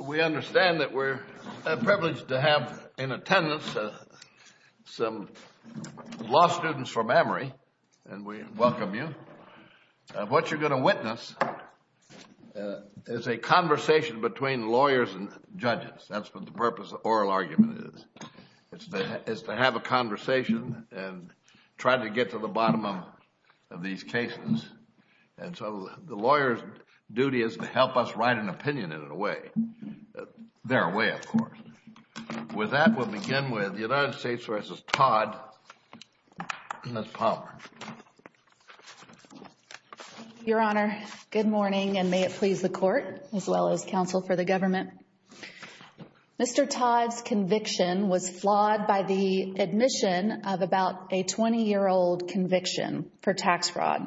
We understand that we're privileged to have in attendance some law students from Emory, and we welcome you. What you're going to witness is a conversation between lawyers and judges. That's what the purpose of oral argument is, is to have a conversation and try to get to the bottom of these cases. And so the lawyer's duty is to help us write an opinion in a way, their way, of course. With that, we'll begin with the United States v. Todd, Ms. Palmer. Your Honor, good morning, and may it please the Court as well as counsel for the government. Mr. Todd's conviction was flawed by the admission of about a 20-year-old conviction for tax fraud.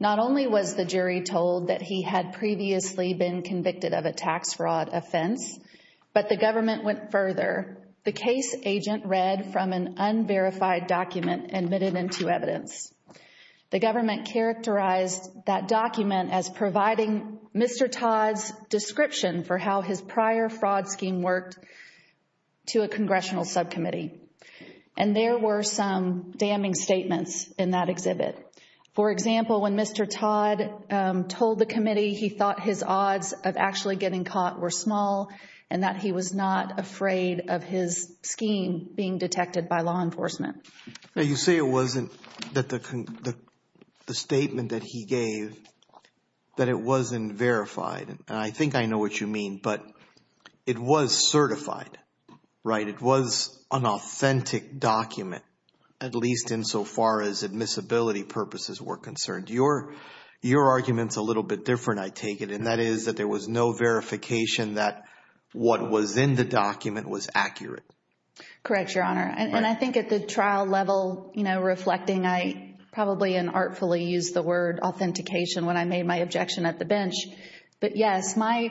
Not only was the jury told that he had previously been convicted of a tax fraud offense, but the government went further. The case agent read from an unverified document and admitted into evidence. The government characterized that document as providing Mr. Todd's description for how his prior fraud scheme worked to a congressional subcommittee. And there were some damning statements in that exhibit. For example, when Mr. Todd told the committee he thought his odds of actually getting caught were small and that he was not afraid of his scheme being detected by law enforcement. Now, you say it wasn't that the statement that he gave, that it wasn't verified. And I think I know what you mean, but it was certified, right? It was an authentic document, at least insofar as admissibility purposes were concerned. Your argument's a little bit different, I take it, and that is that there was no verification that what was in the document was accurate. Correct, Your Honor. And I think at the trial level, you know, reflecting, I probably unartfully used the word authentication when I made my objection at the bench. But yes, my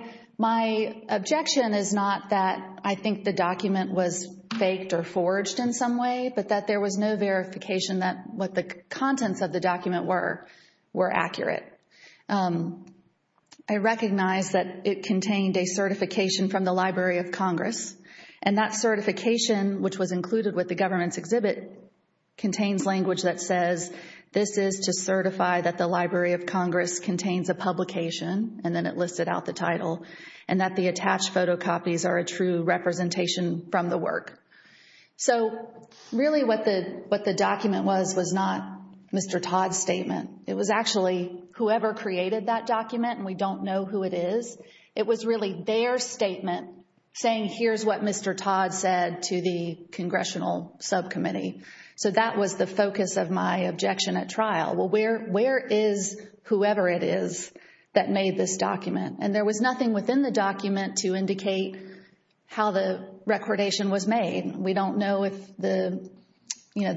objection is not that I think the document was faked or forged in some way, but that there was no verification that what the contents of the document were accurate. I recognize that it contained a certification from the Library of Congress. And that certification, which was included with the government's exhibit, contains language that says, this is to certify that the Library of Congress contains a publication, and then it listed out the title, and that the attached photocopies are a true representation from the work. So really what the document was was not Mr. Todd's statement. It was actually whoever created that document, and we don't know who it is. It was really their statement saying, here's what Mr. Todd said to the congressional subcommittee. So that was the focus of my objection at trial. Well, where is whoever it is that made this document? And there was nothing within the document to indicate how the recordation was made. We don't know if the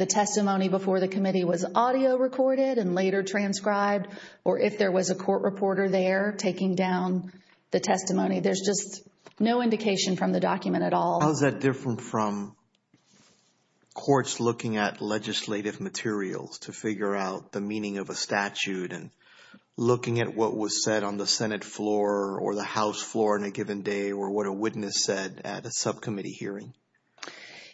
testimony before the committee was audio recorded and later transcribed, or if there was a court reporter there taking down the testimony. There's just no indication from the document at all. How is that different from courts looking at legislative materials to figure out the meaning of a statute and looking at what was said on the Senate floor or the House floor on a given day or what a witness said at a subcommittee hearing?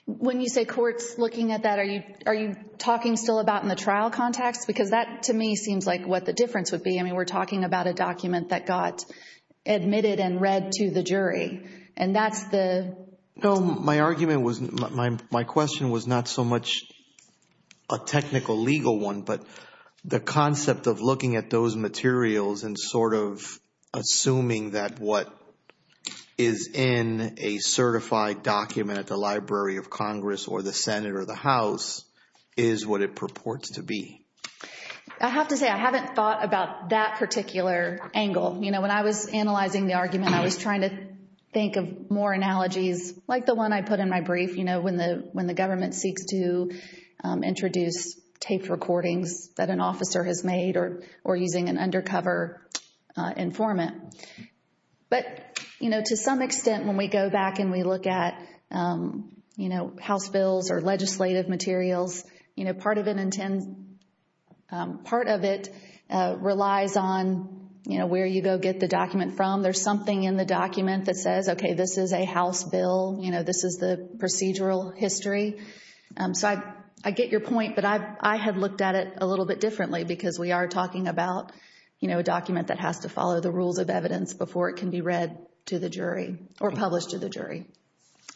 When you say courts looking at that, are you talking still about in the trial context? Because that, to me, seems like what the difference would be. I mean, we're talking about a document that got admitted and read to the jury, and that's the – No, my argument was – my question was not so much a technical legal one, but the concept of looking at those materials and sort of assuming that what is in a certified document at the Library of Congress or the Senate or the House is what it purports to be. I have to say I haven't thought about that particular angle. You know, when I was analyzing the argument, I was trying to think of more analogies, like the one I put in my brief, you know, when the government seeks to introduce taped recordings that an officer has made or using an undercover informant. But, you know, to some extent, when we go back and we look at, you know, House bills or legislative materials, you know, part of it relies on, you know, where you go get the document from. There's something in the document that says, okay, this is a House bill. You know, this is the procedural history. So I get your point, but I have looked at it a little bit differently because we are talking about, you know, a document that has to follow the rules of evidence before it can be read to the jury or published to the jury.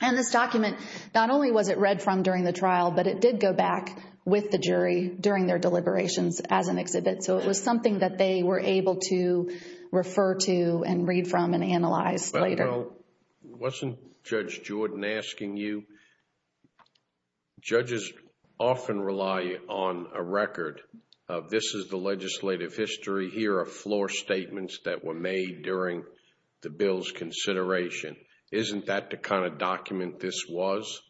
And this document, not only was it read from during the trial, but it did go back with the jury during their deliberations as an exhibit. So it was something that they were able to refer to and read from and analyze later. Well, you know, wasn't Judge Jordan asking you? Judges often rely on a record of this is the legislative history. Here are floor statements that were made during the bill's consideration. Isn't that the kind of document this was?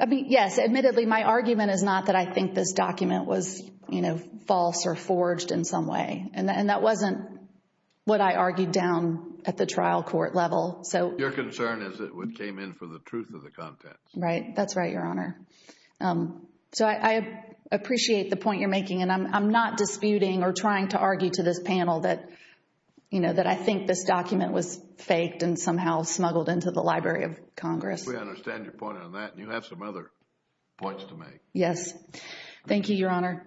I mean, yes. Admittedly, my argument is not that I think this document was, you know, false or forged in some way. And that wasn't what I argued down at the trial court level. Your concern is it came in for the truth of the contents. Right. That's right, Your Honor. So I appreciate the point you're making, and I'm not disputing or trying to argue to this panel that, you know, that I think this document was faked and somehow smuggled into the Library of Congress. We understand your point on that, and you have some other points to make. Yes. Thank you, Your Honor.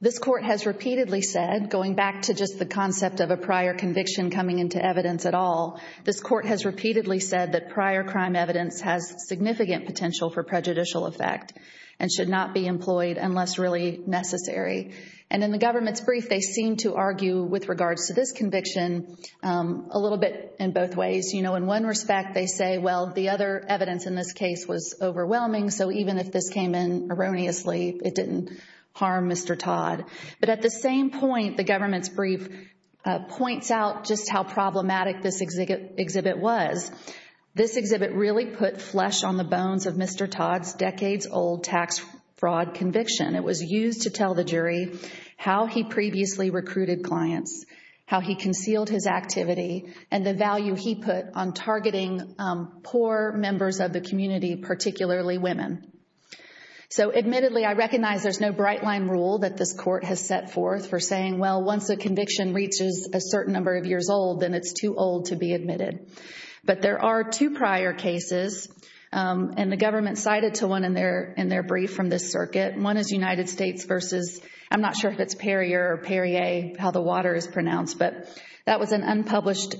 This court has repeatedly said, going back to just the concept of a prior conviction coming into evidence at all, this court has repeatedly said that prior crime evidence has significant potential for prejudicial effect and should not be employed unless really necessary. And in the government's brief, they seem to argue with regards to this conviction a little bit in both ways. You know, in one respect, they say, well, the other evidence in this case was overwhelming, so even if this came in erroneously, it didn't harm Mr. Todd. But at the same point, the government's brief points out just how problematic this exhibit was. This exhibit really put flesh on the bones of Mr. Todd's decades-old tax fraud conviction. It was used to tell the jury how he previously recruited clients, how he concealed his activity, and the value he put on targeting poor members of the community, particularly women. So admittedly, I recognize there's no bright-line rule that this court has set forth for saying, well, once a conviction reaches a certain number of years old, then it's too old to be admitted. But there are two prior cases, and the government cited to one in their brief from this circuit. One is United States versus, I'm not sure if it's Perrier or Perrier, how the water is pronounced. But that was an unpublished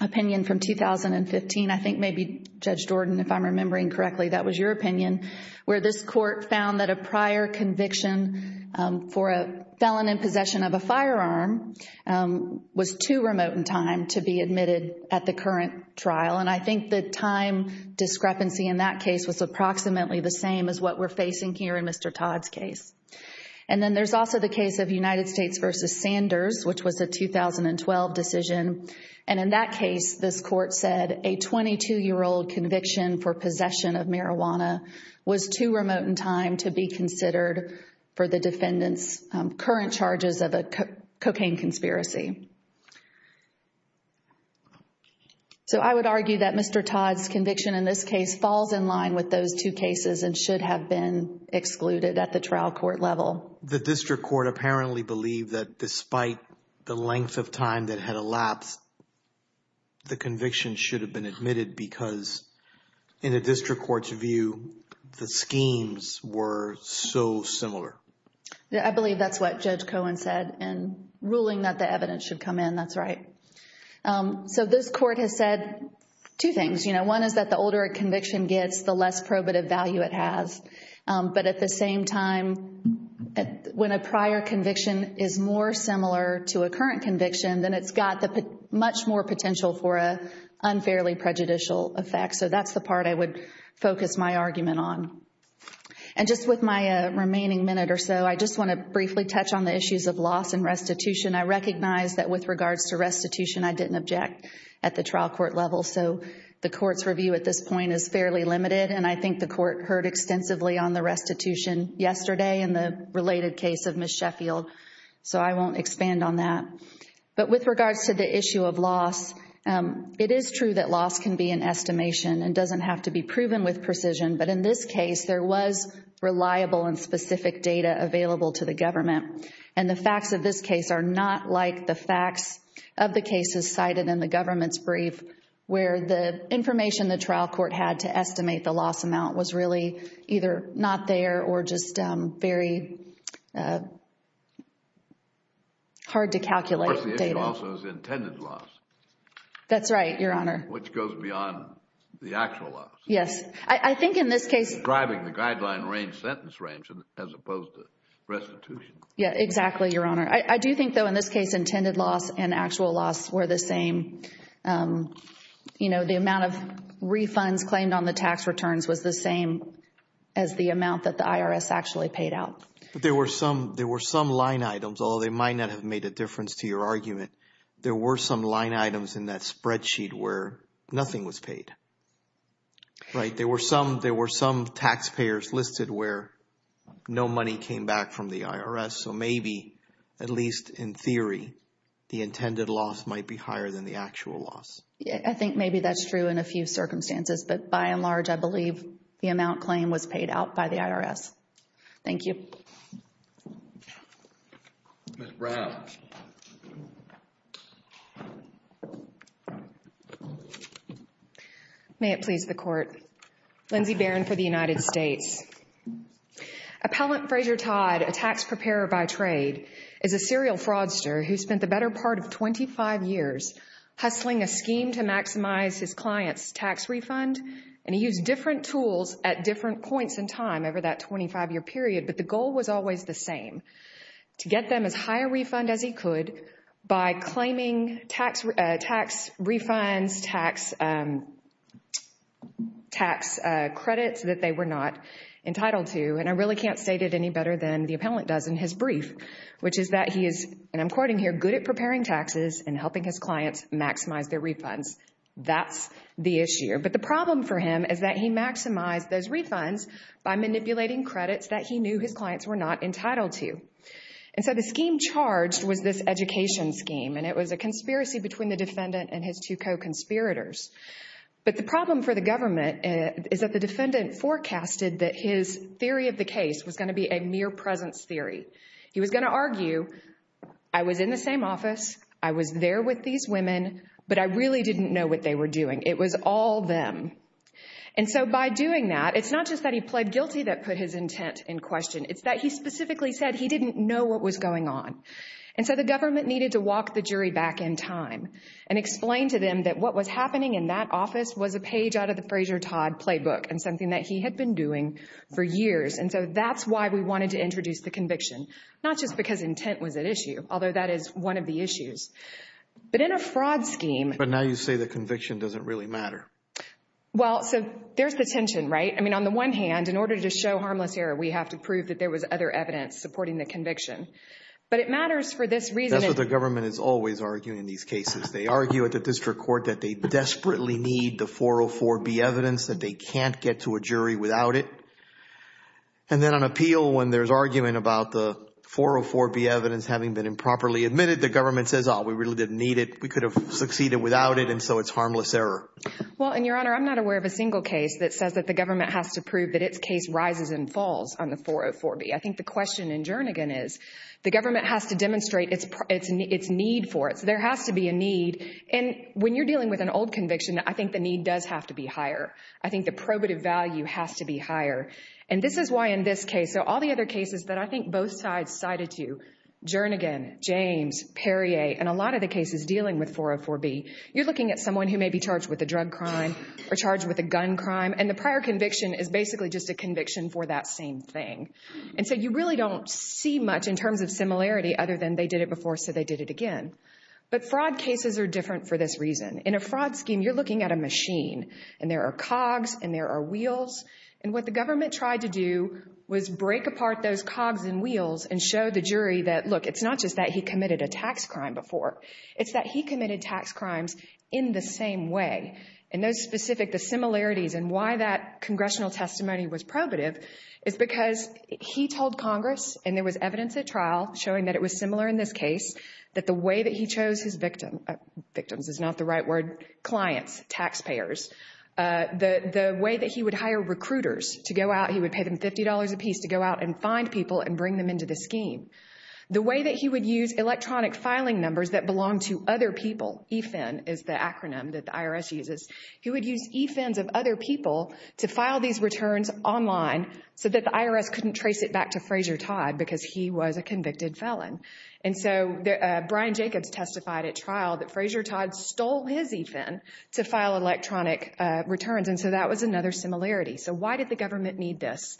opinion from 2015. I think maybe, Judge Jordan, if I'm remembering correctly, that was your opinion, where this court found that a prior conviction for a felon in possession of a firearm was too remote in time to be admitted at the current trial. And I think the time discrepancy in that case was approximately the same as what we're facing here in Mr. Todd's case. And then there's also the case of United States versus Sanders, which was a 2012 decision. And in that case, this court said a 22-year-old conviction for possession of marijuana was too remote in time to be considered for the defendant's current charges of a cocaine conspiracy. So I would argue that Mr. Todd's conviction in this case falls in line with those two cases and should have been excluded at the trial court level. The district court apparently believed that despite the length of time that had elapsed, the conviction should have been admitted because in a district court's view, the schemes were so similar. I believe that's what Judge Cohen said in ruling that the evidence should come in. That's right. So this court has said two things. One is that the older a conviction gets, the less probative value it has. But at the same time, when a prior conviction is more similar to a current conviction, then it's got much more potential for an unfairly prejudicial effect. So that's the part I would focus my argument on. And just with my remaining minute or so, I just want to briefly touch on the issues of loss and restitution. I recognize that with regards to restitution, I didn't object at the trial court level. So the court's review at this point is fairly limited, and I think the court heard extensively on the restitution yesterday and the related case of Ms. Sheffield. So I won't expand on that. But with regards to the issue of loss, it is true that loss can be an estimation and doesn't have to be proven with precision. But in this case, there was reliable and specific data available to the government. And the facts of this case are not like the facts of the cases cited in the government's brief, where the information the trial court had to estimate the loss amount was really either not there or just very hard to calculate data. Of course, the issue also is intended loss. That's right, Your Honor. Which goes beyond the actual loss. Yes. I think in this case... Driving the guideline range, sentence range, as opposed to restitution. Yes, exactly, Your Honor. I do think, though, in this case, intended loss and actual loss were the same. You know, the amount of refunds claimed on the tax returns was the same as the amount that the IRS actually paid out. But there were some line items, although they might not have made a difference to your argument. There were some line items in that spreadsheet where nothing was paid. Right? There were some taxpayers listed where no money came back from the IRS. So maybe, at least in theory, the intended loss might be higher than the actual loss. I think maybe that's true in a few circumstances. But by and large, I believe the amount claimed was paid out by the IRS. Thank you. Ms. Brown. May it please the Court. Lindsay Barron for the United States. Appellant Fraser Todd, a tax preparer by trade, is a serial fraudster who spent the better part of 25 years hustling a scheme to maximize his client's tax refund. And he used different tools at different points in time over that 25-year period. But the goal was always the same, to get them as high a refund as he could by claiming tax refunds, tax credits that they were not entitled to. And I really can't state it any better than the appellant does in his brief, which is that he is, and I'm quoting here, good at preparing taxes and helping his clients maximize their refunds. That's the issue. But the problem for him is that he maximized those refunds by manipulating credits that he knew his clients were not entitled to. And so the scheme charged was this education scheme, and it was a conspiracy between the defendant and his two co-conspirators. But the problem for the government is that the defendant forecasted that his theory of the case was going to be a mere presence theory. He was going to argue, I was in the same office, I was there with these women, but I really didn't know what they were doing. It was all them. And so by doing that, it's not just that he pled guilty that put his intent in question, it's that he specifically said he didn't know what was going on. And so the government needed to walk the jury back in time and explain to them that what was happening in that office was a page out of the Fraser Todd playbook and something that he had been doing for years. And so that's why we wanted to introduce the conviction, not just because intent was at issue, although that is one of the issues. But in a fraud scheme. But now you say the conviction doesn't really matter. Well, so there's the tension, right? I mean, on the one hand, in order to show harmless error, we have to prove that there was other evidence supporting the conviction. But it matters for this reason. That's what the government is always arguing in these cases. They argue at the district court that they desperately need the 404B evidence, that they can't get to a jury without it. And then on appeal, when there's argument about the 404B evidence having been improperly admitted, the government says, oh, we really didn't need it. We could have succeeded without it, and so it's harmless error. Well, and, Your Honor, I'm not aware of a single case that says that the government has to prove that its case rises and falls on the 404B. I think the question in Jernigan is the government has to demonstrate its need for it. So there has to be a need. And when you're dealing with an old conviction, I think the need does have to be higher. I think the probative value has to be higher. And this is why in this case, so all the other cases that I think both sides cited to, Jernigan, James, Perrier, and a lot of the cases dealing with 404B, you're looking at someone who may be charged with a drug crime or charged with a gun crime, and the prior conviction is basically just a conviction for that same thing. And so you really don't see much in terms of similarity other than they did it before so they did it again. But fraud cases are different for this reason. In a fraud scheme, you're looking at a machine, and there are cogs and there are wheels. And what the government tried to do was break apart those cogs and wheels and show the jury that, look, it's not just that he committed a tax crime before. It's that he committed tax crimes in the same way. And those specific similarities and why that congressional testimony was probative is because he told Congress, and there was evidence at trial showing that it was similar in this case, that the way that he chose his victims is not the right word, clients, taxpayers. The way that he would hire recruiters to go out, he would pay them $50 apiece to go out and find people and bring them into the scheme. The way that he would use electronic filing numbers that belonged to other people, EFIN is the acronym that the IRS uses. He would use EFINs of other people to file these returns online so that the IRS couldn't trace it back to Frazier Todd because he was a convicted felon. And so Brian Jacobs testified at trial that Frazier Todd stole his EFIN to file electronic returns. And so that was another similarity. So why did the government need this?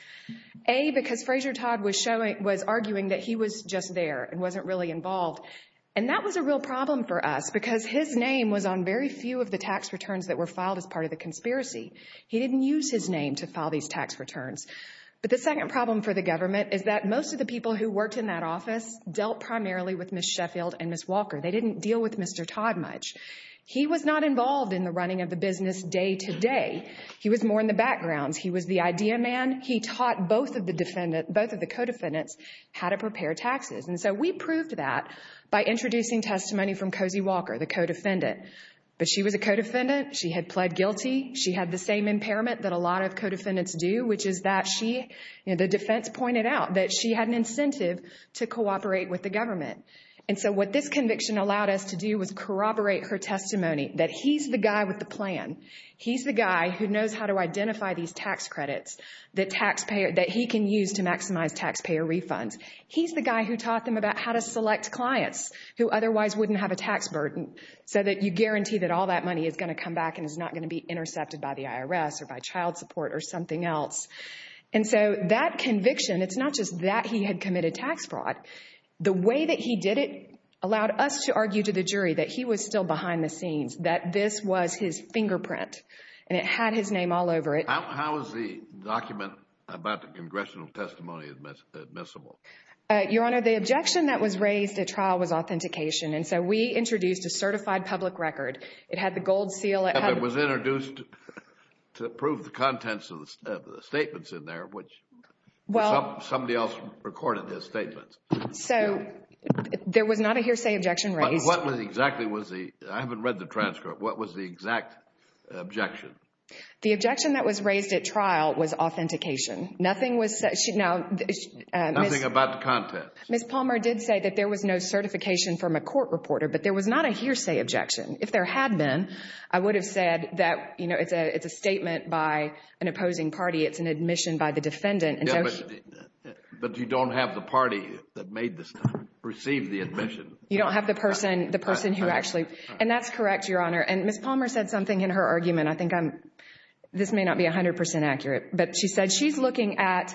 A, because Frazier Todd was arguing that he was just there and wasn't really involved. And that was a real problem for us because his name was on very few of the tax returns that were filed as part of the conspiracy. He didn't use his name to file these tax returns. But the second problem for the government is that most of the people who worked in that office dealt primarily with Ms. Sheffield and Ms. Walker. They didn't deal with Mr. Todd much. He was not involved in the running of the business day to day. He was more in the background. He was the idea man. He taught both of the co-defendants how to prepare taxes. And so we proved that by introducing testimony from Cozy Walker, the co-defendant. But she was a co-defendant. She had pled guilty. She had the same impairment that a lot of co-defendants do, which is that she, the defense pointed out that she had an incentive to cooperate with the government. And so what this conviction allowed us to do was corroborate her testimony that he's the guy with the plan. He's the guy who knows how to identify these tax credits that he can use to maximize taxpayer refunds. He's the guy who taught them about how to select clients who otherwise wouldn't have a tax burden so that you guarantee that all that money is going to come back and is not going to be intercepted by the IRS or by child support or something else. And so that conviction, it's not just that he had committed tax fraud. The way that he did it allowed us to argue to the jury that he was still behind the scenes, that this was his fingerprint. And it had his name all over it. How is the document about the congressional testimony admissible? Your Honor, the objection that was raised at trial was authentication. And so we introduced a certified public record. It had the gold seal. It was introduced to prove the contents of the statements in there, which somebody else recorded his statements. So there was not a hearsay objection raised. But what exactly was the, I haven't read the transcript, what was the exact objection? The objection that was raised at trial was authentication. Nothing about the contents. Ms. Palmer did say that there was no certification from a court reporter. But there was not a hearsay objection. If there had been, I would have said that, you know, it's a statement by an opposing party. It's an admission by the defendant. But you don't have the party that made this, received the admission. You don't have the person who actually. And that's correct, Your Honor. And Ms. Palmer said something in her argument. I think this may not be 100 percent accurate. But she said she's looking at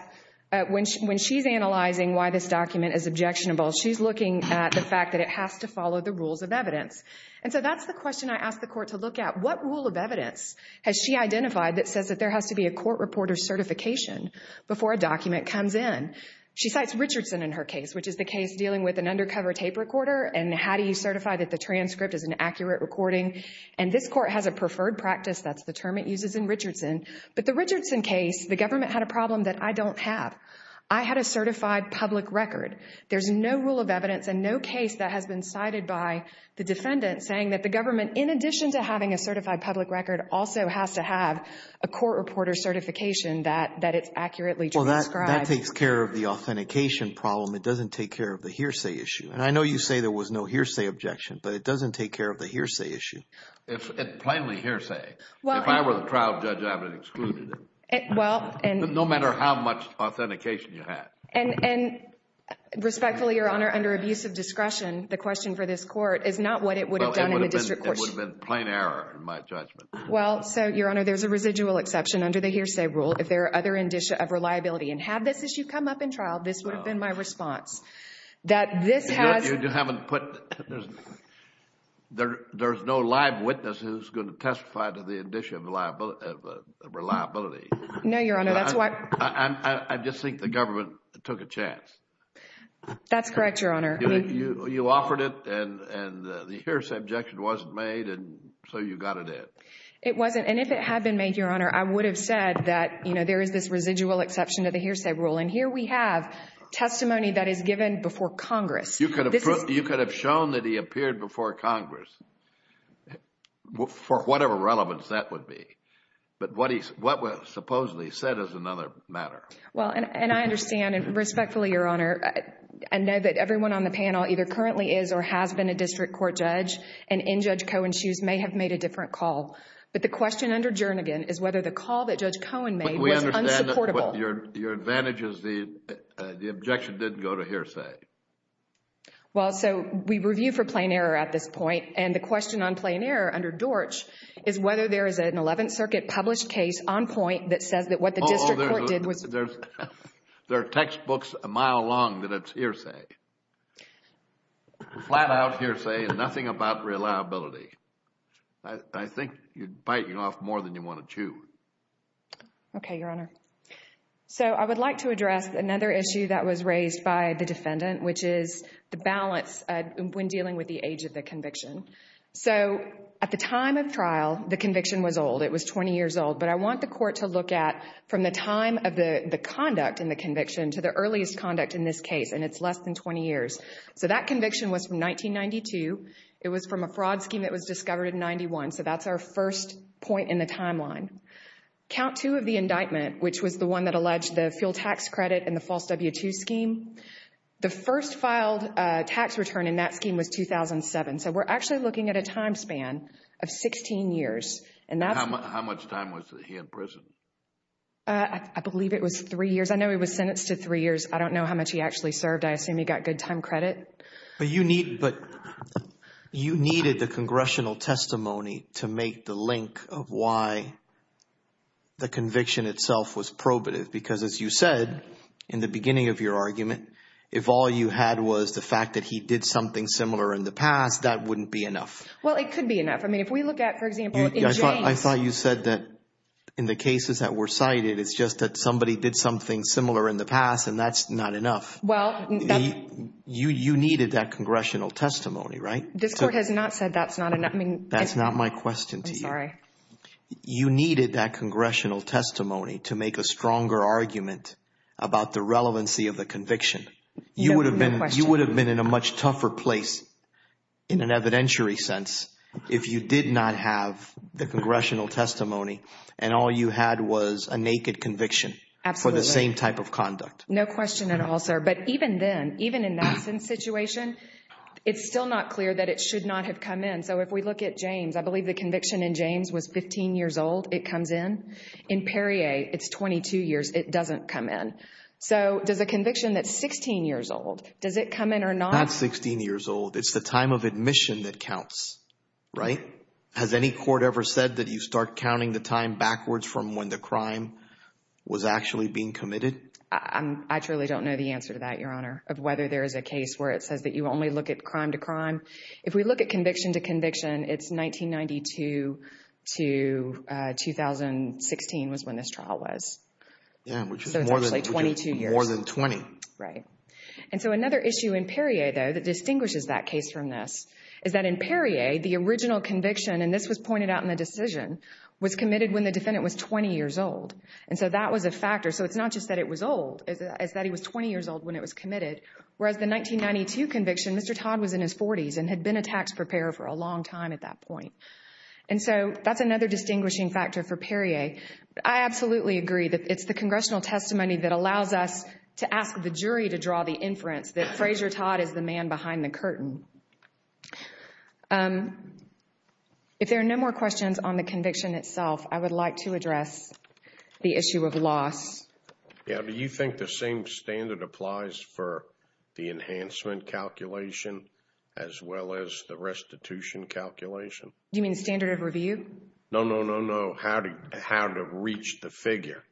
when she's analyzing why this document is objectionable, she's looking at the fact that it has to follow the rules of evidence. And so that's the question I asked the court to look at. What rule of evidence has she identified that says that there has to be a court reporter's certification before a document comes in? She cites Richardson in her case, which is the case dealing with an undercover tape recorder and how do you certify that the transcript is an accurate recording. And this court has a preferred practice. That's the term it uses in Richardson. But the Richardson case, the government had a problem that I don't have. I had a certified public record. There's no rule of evidence and no case that has been cited by the defendant saying that the government, in addition to having a certified public record, also has to have a court reporter's certification that it's accurately transcribed. Well, that takes care of the authentication problem. It doesn't take care of the hearsay issue. And I know you say there was no hearsay objection, but it doesn't take care of the hearsay issue. It's plainly hearsay. If I were the trial judge, I would have excluded it, no matter how much authentication you had. And respectfully, Your Honor, under abuse of discretion, the question for this court is not what it would have done in the district court. It would have been plain error in my judgment. Well, so, Your Honor, there's a residual exception under the hearsay rule. If there are other indicia of reliability and had this issue come up in trial, this would have been my response. There's no live witness who's going to testify to the indicia of reliability. No, Your Honor. I just think the government took a chance. That's correct, Your Honor. You offered it, and the hearsay objection wasn't made, and so you got it in. It wasn't. And if it had been made, Your Honor, I would have said that there is this residual exception to the hearsay rule. And here we have testimony that is given before Congress. You could have shown that he appeared before Congress, for whatever relevance that would be. But what he supposedly said is another matter. Well, and I understand, and respectfully, Your Honor, I know that everyone on the panel either currently is or has been a district court judge, and in Judge Cohen's shoes, may have made a different call. But the question under Jernigan is whether the call that Judge Cohen made was unsupportable. Your advantage is the objection didn't go to hearsay. Well, so we review for plain error at this point, and the question on plain error under Dortch is whether there is an Eleventh Circuit published case on point that says that what the district court did was... Uh-oh, there are textbooks a mile long that it's hearsay. Flat-out hearsay and nothing about reliability. I think you're biting off more than you want to chew. Okay, Your Honor. So, I would like to address another issue that was raised by the defendant, which is the balance when dealing with the age of the conviction. So, at the time of trial, the conviction was old. It was 20 years old. But I want the court to look at from the time of the conduct in the conviction to the earliest conduct in this case, and it's less than 20 years. So, that conviction was from 1992. It was from a fraud scheme that was discovered in 91. So, that's our first point in the timeline. Count two of the indictment, which was the one that alleged the fuel tax credit in the false W-2 scheme, the first filed tax return in that scheme was 2007. So, we're actually looking at a time span of 16 years, and that's... How much time was he in prison? I believe it was three years. I know he was sentenced to three years. I don't know how much he actually served. I assume he got good time credit. But you needed the congressional testimony to make the link of why the conviction itself was probative. Because, as you said in the beginning of your argument, if all you had was the fact that he did something similar in the past, that wouldn't be enough. Well, it could be enough. I mean, if we look at, for example, in James... I thought you said that in the cases that were cited, it's just that somebody did something similar in the past, and that's not enough. Well... You needed that congressional testimony, right? This Court has not said that's not enough. That's not my question to you. I'm sorry. You needed that congressional testimony to make a stronger argument about the relevancy of the conviction. No question. You would have been in a much tougher place in an evidentiary sense if you did not have the congressional testimony, and all you had was a naked conviction... Absolutely.... for the same type of conduct. No question at all, sir. But, even then, even in Madison's situation, it's still not clear that it should not have come in. So, if we look at James, I believe the conviction in James was 15 years old. It comes in. In Perrier, it's 22 years. It doesn't come in. So, does a conviction that's 16 years old, does it come in or not? It's not 16 years old. It's the time of admission that counts, right? Has any court ever said that you start counting the time backwards from when the crime was actually being committed? I truly don't know the answer to that, Your Honor, of whether there is a case where it says that you only look at crime to crime. If we look at conviction to conviction, it's 1992 to 2016 was when this trial was. Yeah, which is more than... So, it's actually 22 years.... more than 20. Right. And so, another issue in Perrier, though, that distinguishes that case from this, is that in Perrier, the original conviction, and this was pointed out in the decision, was committed when the defendant was 20 years old. And so, that was a factor. So, it's not just that it was old. It's that he was 20 years old when it was committed. Whereas, the 1992 conviction, Mr. Todd was in his 40s and had been a tax preparer for a long time at that point. And so, that's another distinguishing factor for Perrier. I absolutely agree that it's the congressional testimony that allows us to ask the jury to draw the inference that Fraser Todd is the man behind the curtain. If there are no more questions on the conviction itself, I would like to address the issue of loss. Yeah. Do you think the same standard applies for the enhancement calculation as well as the restitution calculation? Do you mean standard of review? No, no, no, no. How to reach the figure.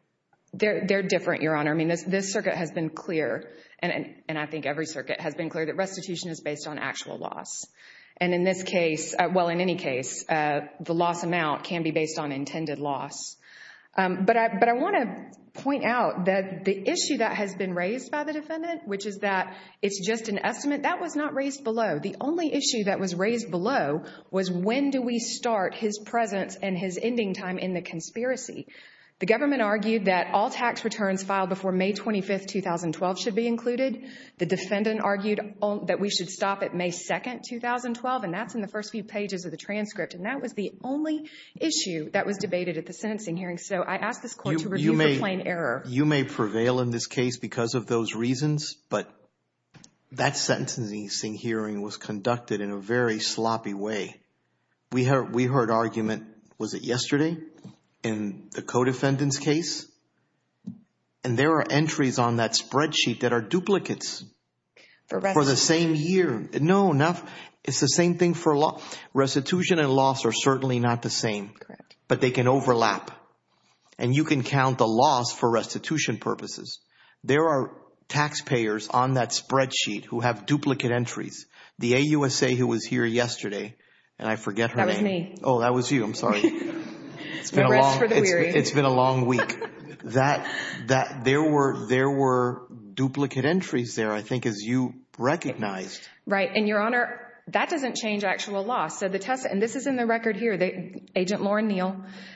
They're different, Your Honor. I mean, this circuit has been clear, and I think every circuit has been clear that restitution is based on actual loss. And in this case, well, in any case, the loss amount can be based on intended loss. But I want to point out that the issue that has been raised by the defendant, which is that it's just an estimate, that was not raised below. The only issue that was raised below was when do we start his presence and his ending time in the conspiracy. The government argued that all tax returns filed before May 25, 2012, should be included. The defendant argued that we should stop at May 2, 2012, and that's in the first few pages of the transcript. And that was the only issue that was debated at the sentencing hearing. So I ask this Court to review for plain error. You may prevail in this case because of those reasons, but that sentencing hearing was conducted in a very sloppy way. We heard argument, was it yesterday, in the co-defendant's case? And there are entries on that spreadsheet that are duplicates. For restitution. For the same year. No, it's the same thing for loss. Restitution and loss are certainly not the same. But they can overlap. And you can count the loss for restitution purposes. There are taxpayers on that spreadsheet who have duplicate entries. The AUSA who was here yesterday, and I forget her name. That was me. Oh, that was you. I'm sorry. It's been a long week. There were duplicate entries there, I think, as you recognized. Right. And, Your Honor, that doesn't change actual loss. And this is in the record here. Agent Lauren Neal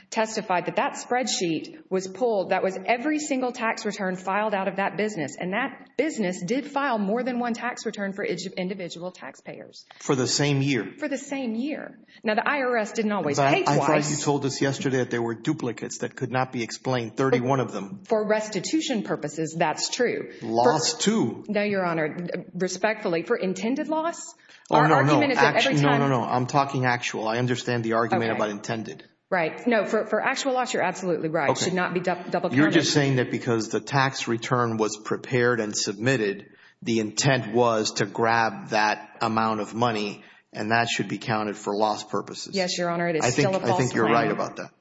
testified that that spreadsheet was pulled. That was every single tax return filed out of that business. And that business did file more than one tax return for individual taxpayers. For the same year. For the same year. Now, the IRS didn't always pay twice. I thought you told us yesterday that there were duplicates that could not be explained, 31 of them. For restitution purposes, that's true. Loss, too. No, Your Honor. Respectfully, for intended loss, our argument is that every time. No, no, no. I'm talking actual. I understand the argument about intended. Right. No, for actual loss, you're absolutely right. It should not be double counted. You're just saying that because the tax return was prepared and submitted, the intent was to grab that amount of money. And that should be counted for loss purposes. Yes, Your Honor. I think you're right about that.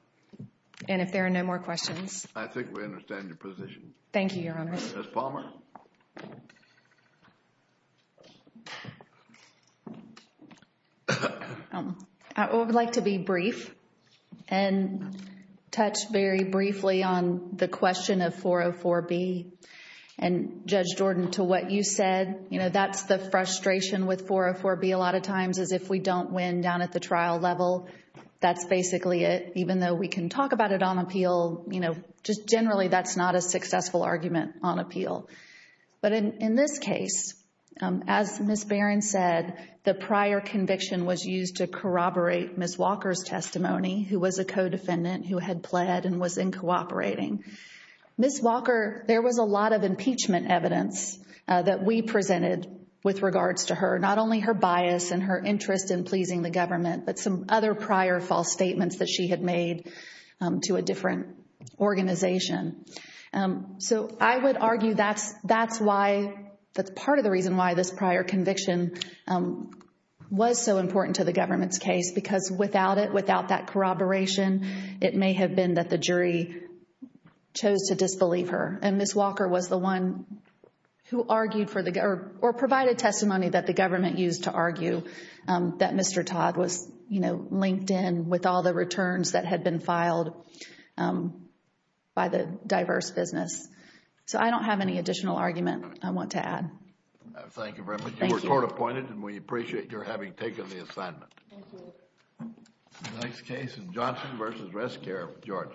And if there are no more questions. I think we understand your position. Thank you, Your Honor. Ms. Palmer. Ms. Palmer. I would like to be brief and touch very briefly on the question of 404B. And Judge Jordan, to what you said, you know, that's the frustration with 404B a lot of times is if we don't win down at the trial level, that's basically it. Even though we can talk about it on appeal, you know, just generally that's not a successful argument on appeal. But in this case, as Ms. Barron said, the prior conviction was used to corroborate Ms. Walker's testimony who was a co-defendant who had pled and was in cooperating. Ms. Walker, there was a lot of impeachment evidence that we presented with regards to her. Not only her bias and her interest in pleasing the government, but some other prior false statements that she had made to a different organization. So I would argue that's why, that's part of the reason why this prior conviction was so important to the government's case. Because without it, without that corroboration, it may have been that the jury chose to disbelieve her. And Ms. Walker was the one who argued for the, or provided testimony that the government used to argue that Mr. Todd was, you know, linked in with all the returns that had been filed by the diverse business. So I don't have any additional argument I want to add. Thank you very much. Thank you. You were court appointed and we appreciate your having taken the assignment. Thank you. The next case is Johnson v. Rescare, Georgia.